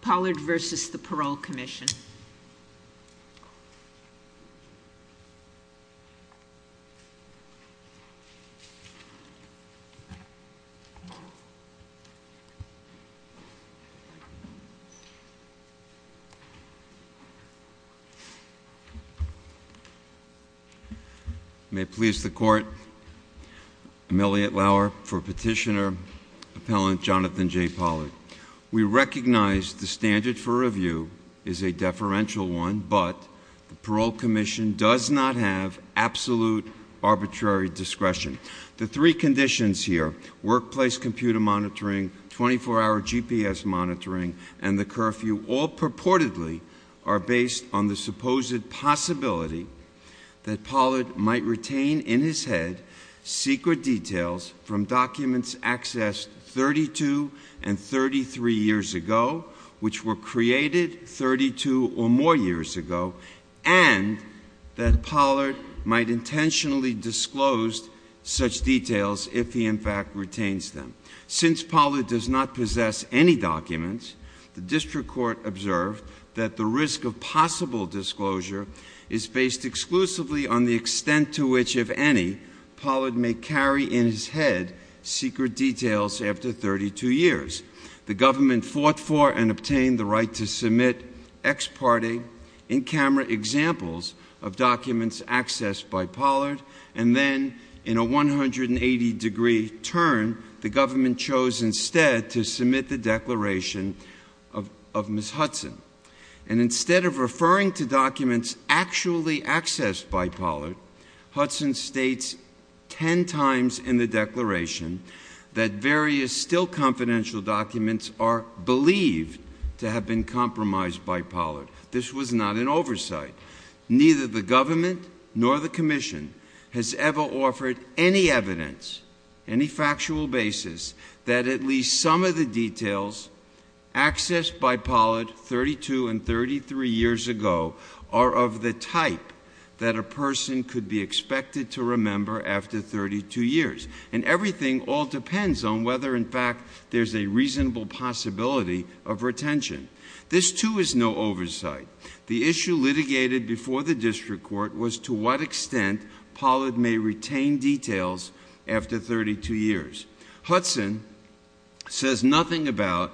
Pollard v. the Parole Commission May it please the court, I'm Elliot Lauer for petitioner, Jonathan J. Pollard. We recognize the standard for review is a deferential one, but the Parole Commission does not have absolute arbitrary discretion. The three conditions here, workplace computer monitoring, 24-hour GPS monitoring, and the curfew, all purportedly are based on the supposed possibility that Pollard might retain in his head secret details from documents accessed 32 and 33 years ago, which were created 32 or more years ago, and that Pollard might intentionally disclose such details if he in fact retains them. Since Pollard does not possess any documents, the district court observed that the risk of possible disclosure is based exclusively on the extent to which, if any, Pollard may carry in his head secret details after 32 years. The government fought for and obtained the right to submit ex parte, in camera examples of documents accessed by Pollard, and then in a 180 degree turn, the government chose instead to submit the declaration of Ms. Hudson. And instead of referring to documents actually accessed by Pollard, Hudson states 10 times in the declaration that various still confidential documents are believed to have been compromised by Pollard. This was not an oversight. Neither the government nor the commission has ever offered any evidence, any factual basis, that at least some of the details accessed by Pollard 32 and 33 years ago are of the type that a person could be expected to remember after 32 years. And everything all depends on whether in fact there's a reasonable possibility of retention. This too is no oversight. The issue litigated before the district court was to what extent Pollard may retain details after 32 years. Hudson says nothing about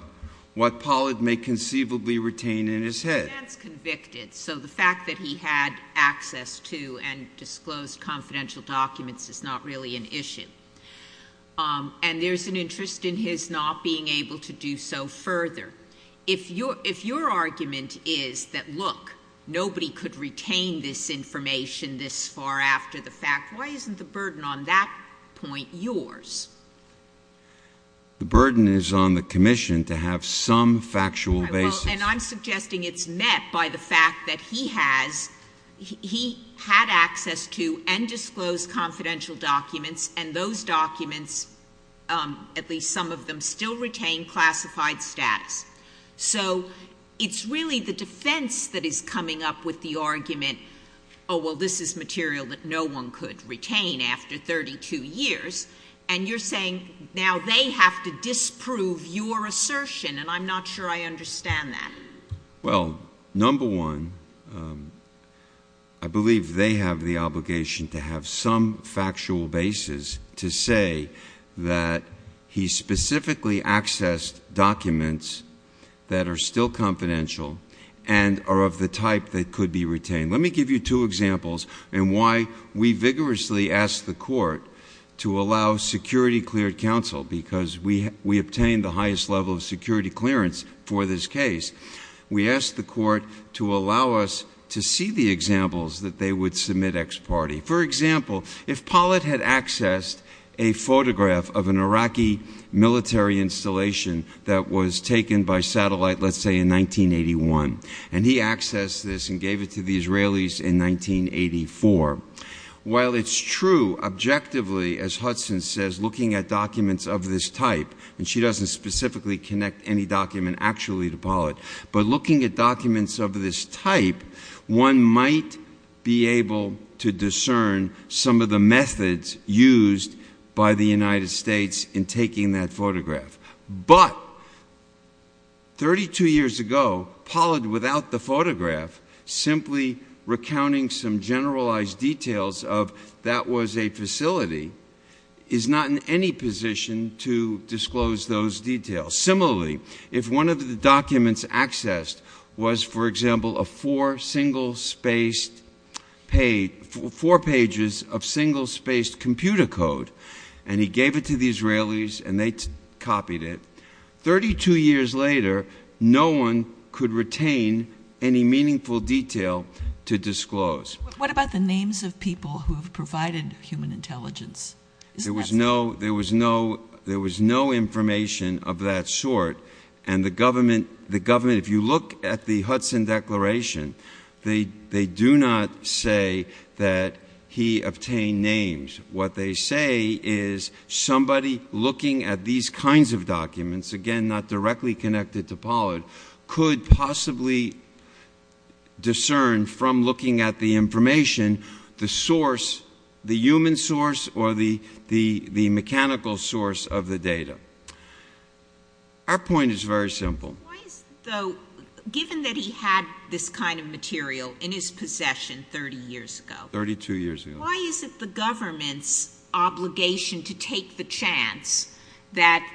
what Pollard may conceivably retain in his head. He stands convicted, so the fact that he had access to and disclosed confidential documents is not really an issue. And there's an interest in his not being able to do so further. If your argument is that, look, nobody could retain this information this far after the fact, why isn't the burden on that point yours? The burden is on the commission to have some factual basis. And I'm suggesting it's met by the fact that he has, he had access to and disclosed confidential documents, and those documents, at least some of them, still retain classified status. So it's really the defense that is coming up with the argument, oh, well, this is material that no one could retain after 32 years. And you're saying now they have to disprove your assertion, and I'm not sure I understand that. Well, number one, I believe they have the obligation to have some factual basis to say that he specifically accessed documents that are still confidential and are of the type that could be retained. Let me give you two examples in why we vigorously ask the court to allow security cleared counsel, because we obtain the highest level of security clearance for this case. We ask the court to allow us to see the examples that they would submit ex parte. For example, if Pollitt had accessed a photograph of an Iraqi military installation that was taken by satellite, let's say, in 1981, and he accessed this and gave it to the Israelis in 1984, while it's true, objectively, as Hudson says, looking at documents of this type, and she doesn't specifically connect any document actually to Pollitt, but looking at documents of this type, one might be able to discern some of the methods used by the United States in taking that photograph. But 32 years ago, Pollitt, without the photograph, simply recounting some generalized details of that was a facility, is not in any position to disclose those details. Similarly, if one of the documents accessed was, for example, four pages of single-spaced computer code, and he gave it to the Israelis, and they copied it, 32 years later, no one could retain any meaningful detail to disclose. What about the names of people who have provided human intelligence? There was no information of that sort, and the government, if you look at the Hudson Declaration, they do not say that he obtained names. What they say is, somebody looking at these kinds of documents, again, not directly connected to Pollitt, could possibly discern from looking at the information, the source, the human source, or the mechanical source of the data. Our point is very simple. Why is it, though, given that he had this kind of material in his possession 30 years ago? 32 years ago. Why is it the government's obligation to take the chance that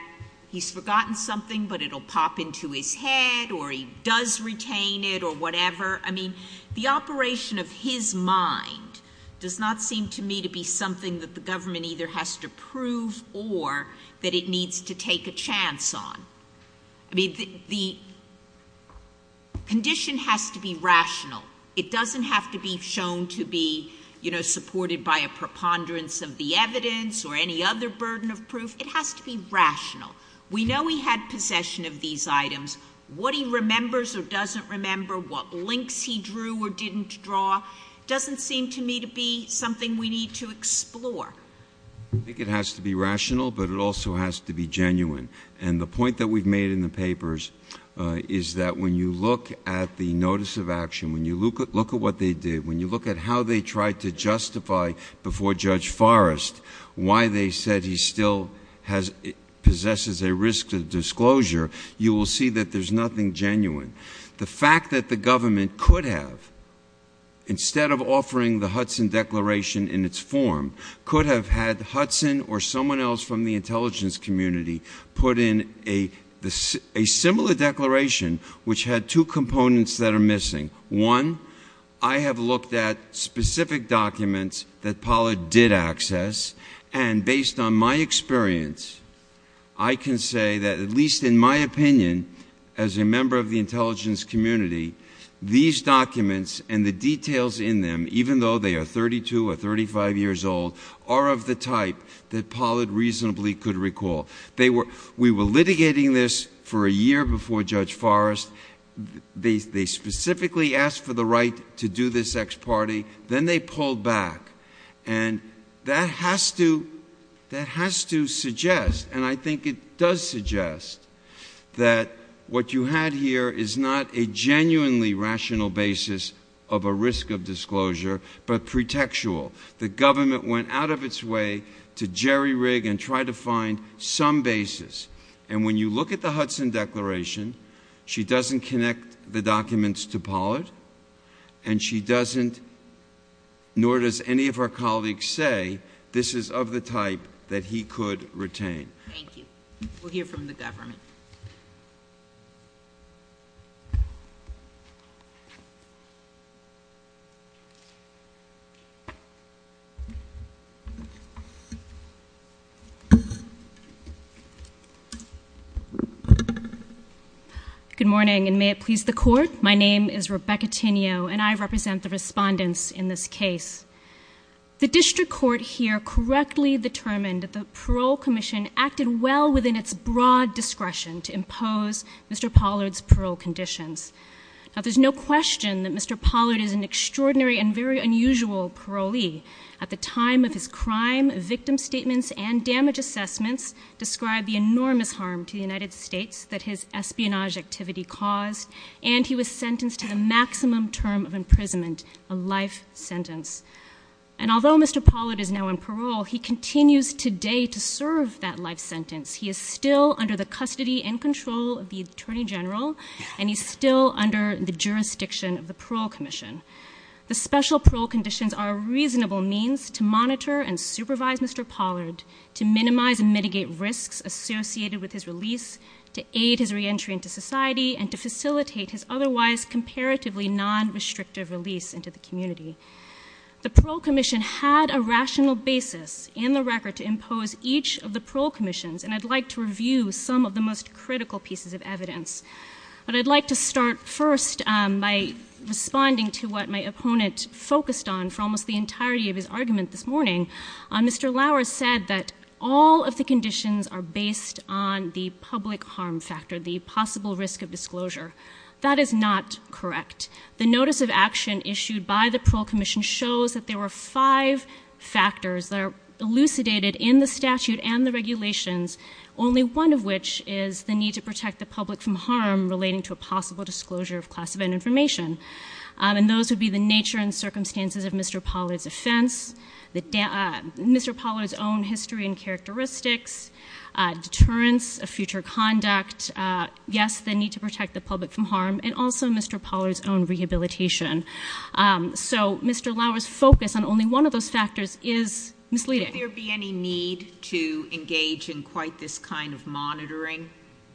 he's forgotten something, but it will pop into his head, or he does retain it, or whatever? I mean, the operation of his mind does not seem to me to be something that the government either has to prove or that it needs to take a chance on. I mean, the condition has to be rational. It doesn't have to be shown to be, you know, supported by a preponderance of the evidence or any other burden of proof. It has to be rational. We know he had possession of these items. What he remembers or doesn't remember, what links he drew or didn't draw, doesn't seem to me to be something we need to explore. I think it has to be rational, but it also has to be genuine. And the point that we've made in the papers is that when you look at the notice of action, when you look at what they did, when you look at how they tried to justify before Judge Forrest why they said he still possesses a risk of disclosure, you will see that there's nothing genuine. The fact that the government could have, instead of offering the Hudson Declaration in its a similar declaration, which had two components that are missing. One, I have looked at specific documents that Pollard did access. And based on my experience, I can say that at least in my opinion, as a member of the intelligence community, these documents and the details in them, even though they are 32 or 35 years old, are of the type that Pollard reasonably could recall. We were litigating this for a year before Judge Forrest. They specifically asked for the right to do this ex parte. Then they pulled back. And that has to suggest, and I think it does suggest, that what you had here is not a genuinely rational basis of a risk of disclosure, but pretextual. The government went out of its way to jerry-rig and try to find some basis. And when you look at the Hudson Declaration, she doesn't connect the documents to Pollard, and she doesn't, nor does any of our colleagues say, this is of the type that he could retain. Thank you. We'll hear from the government. Good morning, and may it please the Court. My name is Rebecca Tinio, and I represent the respondents in this case. The District Court here correctly determined that the Parole Commission acted well within its broad discretion to impose Mr. Pollard's parole conditions. Now, there's no question that Mr. Pollard is an extraordinary and very unusual parolee. At the time of his crime, victim statements and damage assessments describe the enormous harm to the United States that his espionage activity caused, and he was sentenced to the maximum term of imprisonment, a life sentence. And although Mr. Pollard is now on parole, he continues today to serve that life sentence. He is still under the custody and control of the Attorney General, and he's still under the jurisdiction of the Parole Commission. The special parole conditions are a reasonable means to monitor and supervise Mr. Pollard, to minimize and mitigate risks associated with his release, to aid his reentry into society, and to facilitate his otherwise comparatively non-restrictive release into the community. The Parole Commission had a rational basis in the record to impose each of the Parole Commissions, and I'd like to review some of the most critical pieces of evidence. But what my opponent focused on for almost the entirety of his argument this morning, Mr. Lauer said that all of the conditions are based on the public harm factor, the possible risk of disclosure. That is not correct. The notice of action issued by the Parole Commission shows that there were five factors that are elucidated in the statute and the regulations, only one of which is the need to protect the public from harm relating to a possible disclosure of classified information. And those would be the nature and circumstances of Mr. Pollard's offense, Mr. Pollard's own history and characteristics, deterrence of future conduct, yes, the need to protect the public from harm, and also Mr. Pollard's own rehabilitation. So Mr. Lauer's focus on only one of those factors is misleading. Would there be any need to engage in quite this kind of monitoring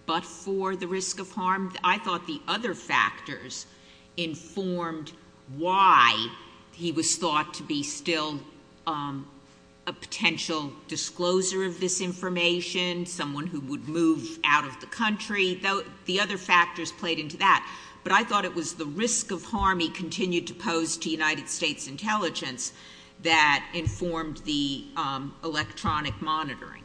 but for the risk of harm? I think that's a good question. I think that's a good question. I think that I think the other factors played into that. But I thought it was the risk of harm he continued to pose to United States Intelligence that informed the electronic monitoring.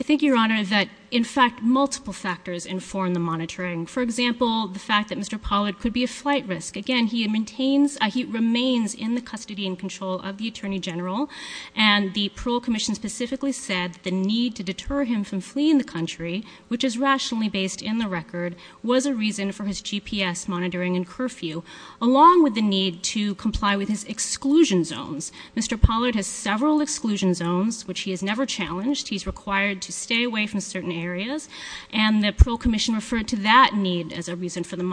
I think, Your Honor, that in fact multiple factors inform the monitoring. For example, the fact that Mr. Pollard could be a flight risk. Again, he remains in the custody and control of the Attorney General, and the Parole Commission specifically said the need to deter him from fleeing the country, which is rationally based in the record, was a reason for his GPS monitoring and curfew, along with the need to comply with his exclusion zones. Mr. Pollard has several exclusion zones, which he has never challenged. He's required to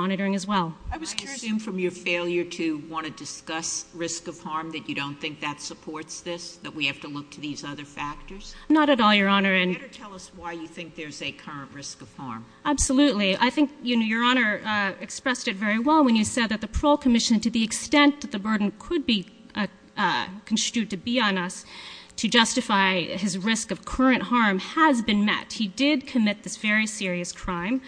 monitor them as well. I assume from your failure to want to discuss risk of harm that you don't think that supports this, that we have to look to these other factors? Not at all, Your Honor. You better tell us why you think there's a current risk of harm. Absolutely. I think Your Honor expressed it very well when you said that the Parole Commission, to the extent that the burden could be construed to be on us, to justify his risk of current harm has been met. He did commit this very serious crime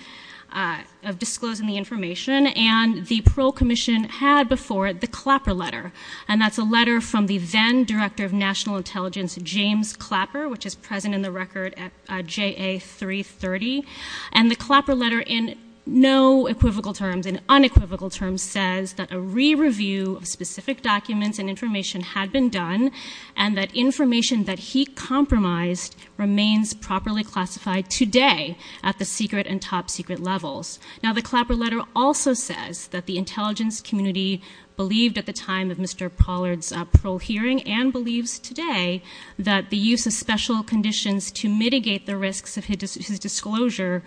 of disclosing the information, and the Parole Commission had before it the Clapper Letter, and that's a letter from the then Director of National Intelligence, James Clapper, which is present in the record at JA 330. And the Clapper Letter, in no equivocal terms, in unequivocal terms, says that a re-review of specific documents and information had been done, and that information that he compromised remains properly classified today at the secret and top secret levels. Now the Clapper Letter also says that the intelligence community believed at the time of Mr. Pollard's parole hearing, and believes today, that the use of special conditions to mitigate the risks of his disclosure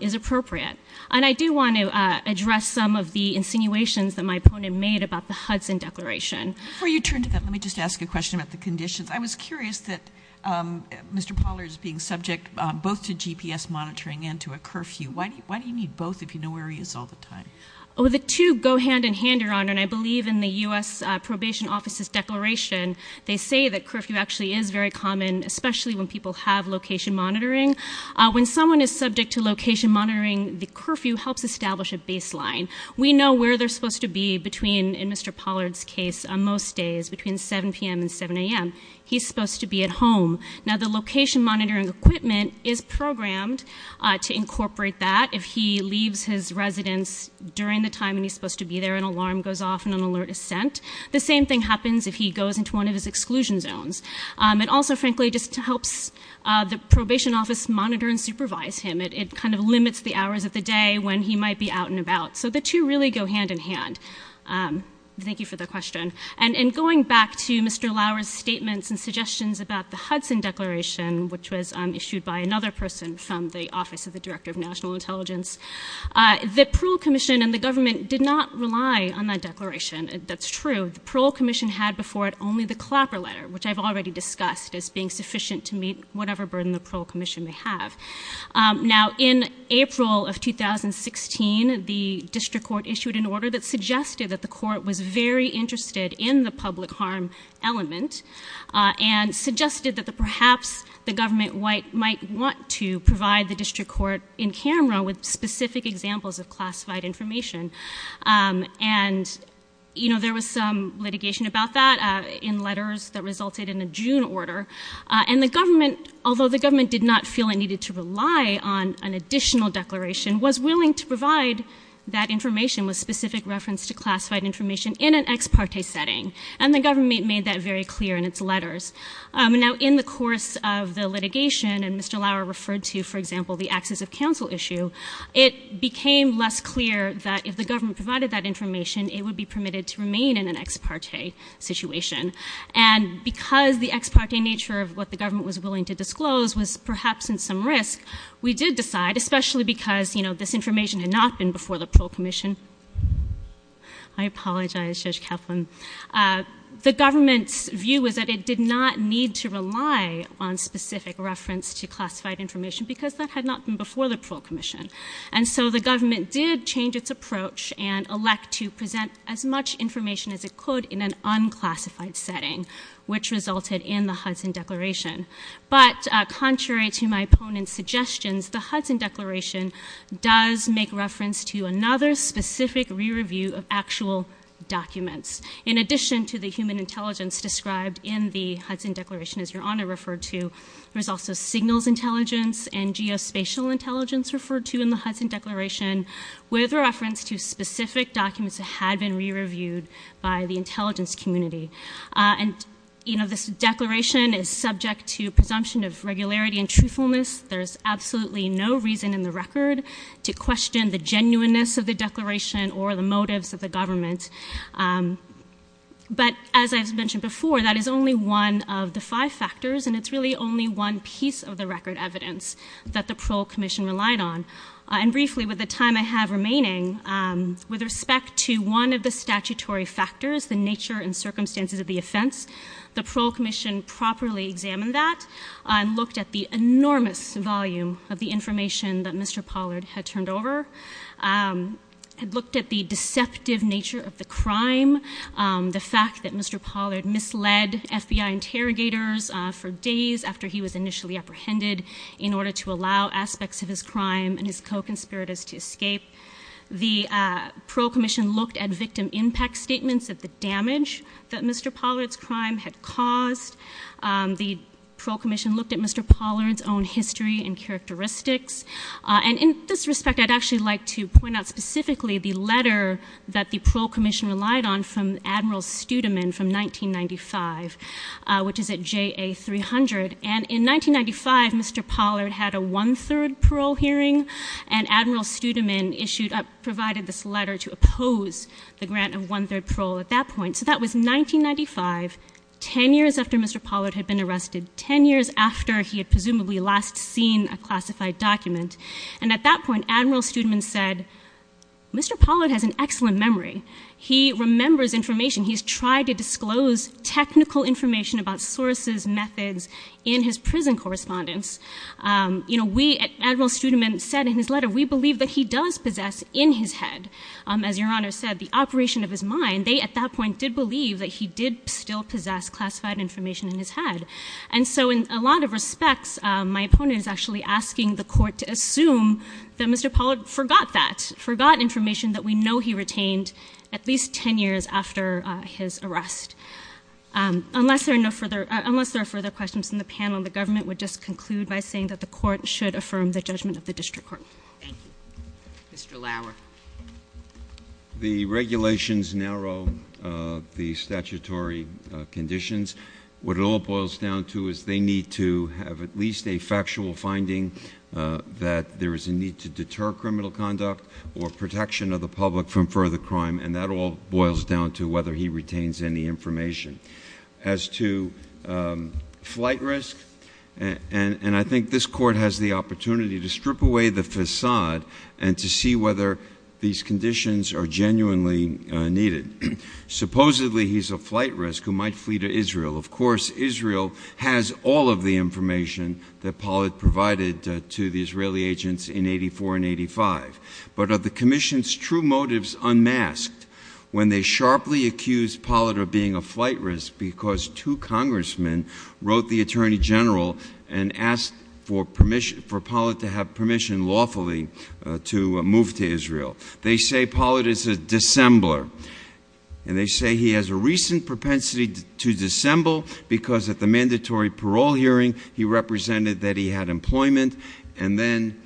is appropriate. And I do want to address some of the insinuations that my opponent made about the Hudson Declaration. Before you turn to them, let me just ask a question about the conditions. I was curious that Mr. Pollard is being subject both to GPS monitoring and to a curfew. Why do you need both if you know where he is all the time? Oh, the two go hand in hand, Your Honor, and I believe in the U.S. Probation Office's Declaration they say that curfew actually is very common, especially when people have location monitoring. When someone is subject to location monitoring, the curfew helps establish a baseline. We know where they're supposed to be between, in Mr. Pollard's case, most days, between 7 p.m. and 7 a.m. He's supposed to be at home. Now, the location monitoring equipment is programmed to incorporate that. If he leaves his residence during the time when he's supposed to be there, an alarm goes off and an alert is sent. The same thing happens if he goes into one of his exclusion zones. It also, frankly, just helps the probation office monitor and supervise him. It kind of limits the hours of the day when he might be out and about. So the two really go hand in hand. Thank you for the question. And going back to Mr. Lauer's statements and suggestions about the Hudson Declaration, which was issued by another person from the Office of the Director of National Intelligence, the Parole Commission and the government did not rely on that declaration. That's true. The Parole Commission had before it only the Clapper Letter, which I've already discussed as being sufficient to meet whatever burden the Parole Commission may have. Now, in April of 2016, the district court issued an order that suggested that the court was very interested in the public harm element and suggested that perhaps the government might want to provide the district court in camera with specific examples of classified information. And there was some litigation about that in letters that resulted in a June order. And the government, although the government did not feel it needed to rely on an additional declaration, was willing to provide that information with specific reference to setting. And the government made that very clear in its letters. Now, in the course of the litigation, and Mr. Lauer referred to, for example, the access of counsel issue, it became less clear that if the government provided that information, it would be permitted to remain in an ex parte situation. And because the ex parte nature of what the government was willing to disclose was perhaps in some risk, we did decide, especially because, you know, this information had not been before the Parole Commission. I apologize, Judge Kaplan. The government's view was that it did not need to rely on specific reference to classified information because that had not been before the Parole Commission. And so the government did change its approach and elect to present as much information as it could in an unclassified setting, which resulted in the Hudson Declaration. But contrary to my opponent's suggestions, the Hudson Declaration does make reference to another specific re-review of actual documents. In addition to the human intelligence described in the Hudson Declaration, as Your Honor referred to, there's also signals intelligence and geospatial intelligence referred to in the Hudson Declaration with reference to specific documents that had been re-reviewed by the intelligence community. And, you know, this declaration is subject to presumption of regularity and truthfulness. There's absolutely no reason in the record to question the genuineness of the declaration or the motives of the government. But as I've mentioned before, that is only one of the five factors, and it's really only one piece of the record evidence that the Parole Commission relied on. And briefly, with the time I have remaining, with respect to one of the statutory factors, the nature and circumstances of the offense, the Parole Commission properly examined that and looked at the enormous volume of the information that Mr. Pollard had turned over, had looked at the deceptive nature of the crime, the fact that Mr. Pollard misled FBI interrogators for days after he was initially apprehended in order to allow aspects of his crime and his co-conspirators to escape. The Parole Commission looked at victim impact statements, at the damage that Mr. Pollard's crime had caused. The Parole Commission looked at Mr. Pollard's own history and characteristics. And in this respect, I'd actually like to point out specifically the letter that the Parole Commission relied on from Admiral Studeman from 1995, which is at JA-300. And in 1995, Mr. Pollard had a one-third parole hearing, and Admiral Studeman provided this letter to oppose the grant of one-third parole at that point. So that was 1995, ten years after Mr. Pollard had been arrested, ten years after he had presumably last seen a classified document. And at that point, Admiral Studeman said, Mr. Pollard has an excellent memory. He remembers information. He's tried to disclose technical information about sources, methods in his prison correspondence. You know, we at Admiral Studeman said in his letter, we believe that he does possess in his head, as Your Honor said, the operation of his mind. They, at that point, did believe that he did still possess classified information in his head. And so in a lot of respects, my opponent is actually asking the Court to assume that Mr. Pollard forgot that, forgot information that we know he retained at least ten years after his arrest. Unless there are no further, unless there are further questions in the panel, the government would just conclude by saying that the Court should affirm the judgment of the District Court. Thank you. Mr. Lauer. The regulations narrow the statutory conditions. What it all boils down to is they need to have at least a factual finding that there is a need to deter criminal conduct or protection of the public from further crime, and that all boils down to whether he retains any information. As to flight risk, and I think this Court has the opportunity to strip away the facade and to see whether these conditions are genuinely needed. Supposedly, he's a flight risk who might flee to Israel. Of course, Israel has all of the information that Pollard provided to the Israeli agents in 84 and 85. But of the Commission's true motives unmasked, when they sharply accused Pollard of being a flight risk because two congressmen wrote the Attorney General and asked for permission, for Pollard to have permission lawfully to move to Israel. They say Pollard is a dissembler, and they say he has a recent propensity to dissemble because at the mandatory parole hearing he represented that he had employment, and then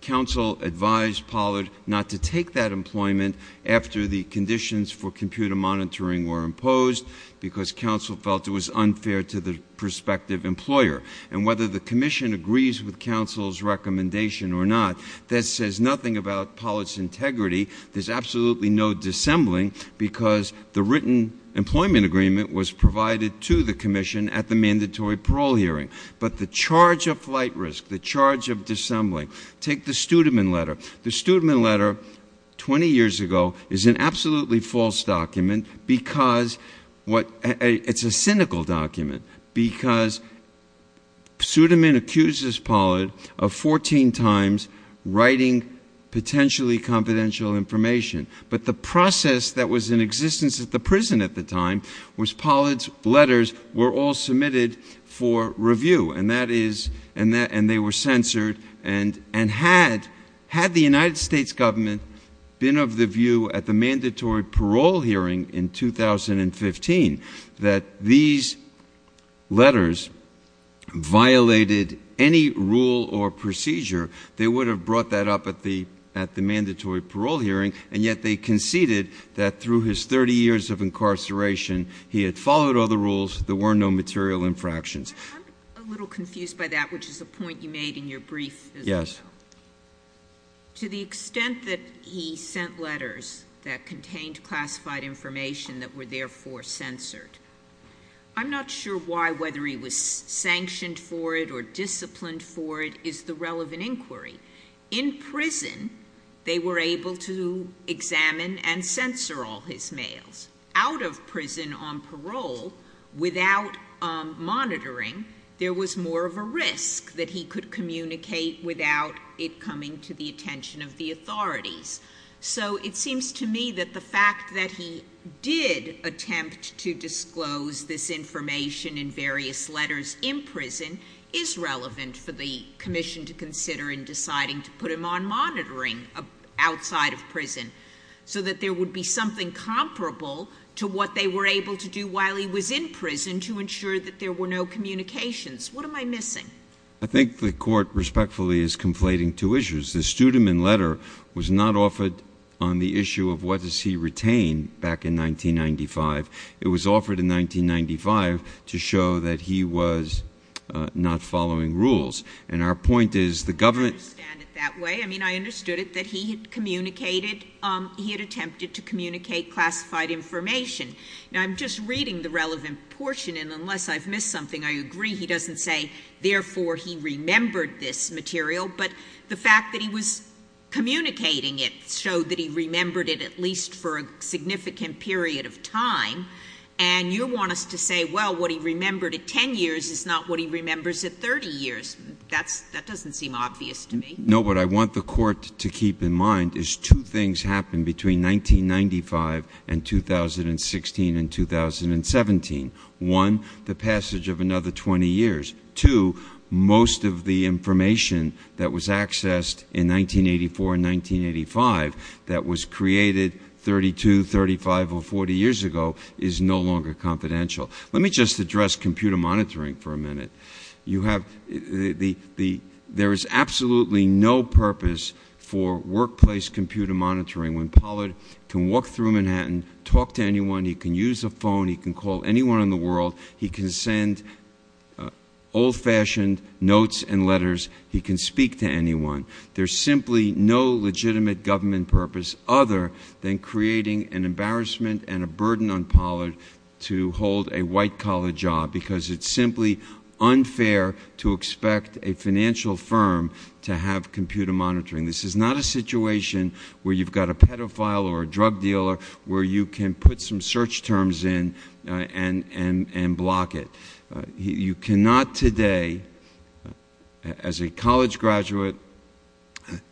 counsel advised Pollard not to take that employment after the conditions for computer monitoring were imposed because counsel felt it was unfair to the prospective employer. And whether the Commission agrees with counsel's recommendation or not, that says nothing about Pollard's integrity. There's absolutely no dissembling because the written employment agreement was provided to the Commission at the mandatory parole hearing. But the charge of flight risk, the charge of dissembling, take the Studeman letter. The Studeman letter, 20 years ago, is an absolutely false document because it's a cynical document because Studeman accuses Pollard of 14 times writing potentially confidential information. But the process that was in existence at the prison at the time was Pollard's letters were all submitted for review, and they were censored. And had the United States government been of the view at the mandatory parole hearing in 2015 that these letters violated any rule or procedure, they would have brought that up at the mandatory parole hearing. But in the case of incarceration, he had followed all the rules. There were no material infractions. I'm a little confused by that, which is a point you made in your brief. Yes. To the extent that he sent letters that contained classified information that were therefore censored, I'm not sure why, whether he was sanctioned for it or disciplined for it, is the relevant out of prison on parole without monitoring, there was more of a risk that he could communicate without it coming to the attention of the authorities. So it seems to me that the fact that he did attempt to disclose this information in various letters in prison is relevant for the commission to consider in deciding to put him on monitoring outside of prison so that there would be something comparable to what they were able to do while he was in prison to ensure that there were no communications. What am I missing? I think the Court respectfully is conflating two issues. The Studeman letter was not offered on the issue of what does he retain back in 1995. It was offered in 1995 to show that he was not following rules. And our point is the government... I understand that he had communicated, he had attempted to communicate classified information. Now, I'm just reading the relevant portion, and unless I've missed something, I agree he doesn't say, therefore, he remembered this material. But the fact that he was communicating it showed that he remembered it at least for a significant period of time. And you want us to say, well, what he remembered at 10 years is not what he remembers at 30 years. That doesn't seem obvious to me. No, but I want the Court to keep in mind is two things happened between 1995 and 2016 and 2017. One, the passage of another 20 years. Two, most of the information that was accessed in 1984 and 1985 that was created 32, 35, or 40 years ago is no longer confidential. Let me just address computer monitoring for a minute. There is absolutely no purpose for workplace computer monitoring when Pollard can walk through Manhattan, talk to anyone, he can use a phone, he can call anyone in the world, he can send old-fashioned notes and letters, he can speak to anyone. There's simply no legitimate government purpose other than creating an embarrassment and a burden on Pollard to hold a white-collar job because it's simply unfair to expect a financial firm to have computer monitoring. This is not a situation where you've got a pedophile or a drug dealer where you can put some search terms in and block it. You cannot today as a college graduate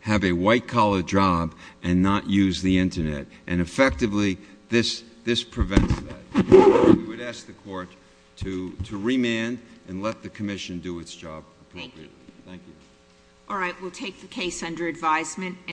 have a white-collar job and not use the internet and effectively this prevents that. We would ask the Court to remand and let the Commission do its job appropriately. Thank you. All right, we'll take the case under advisement.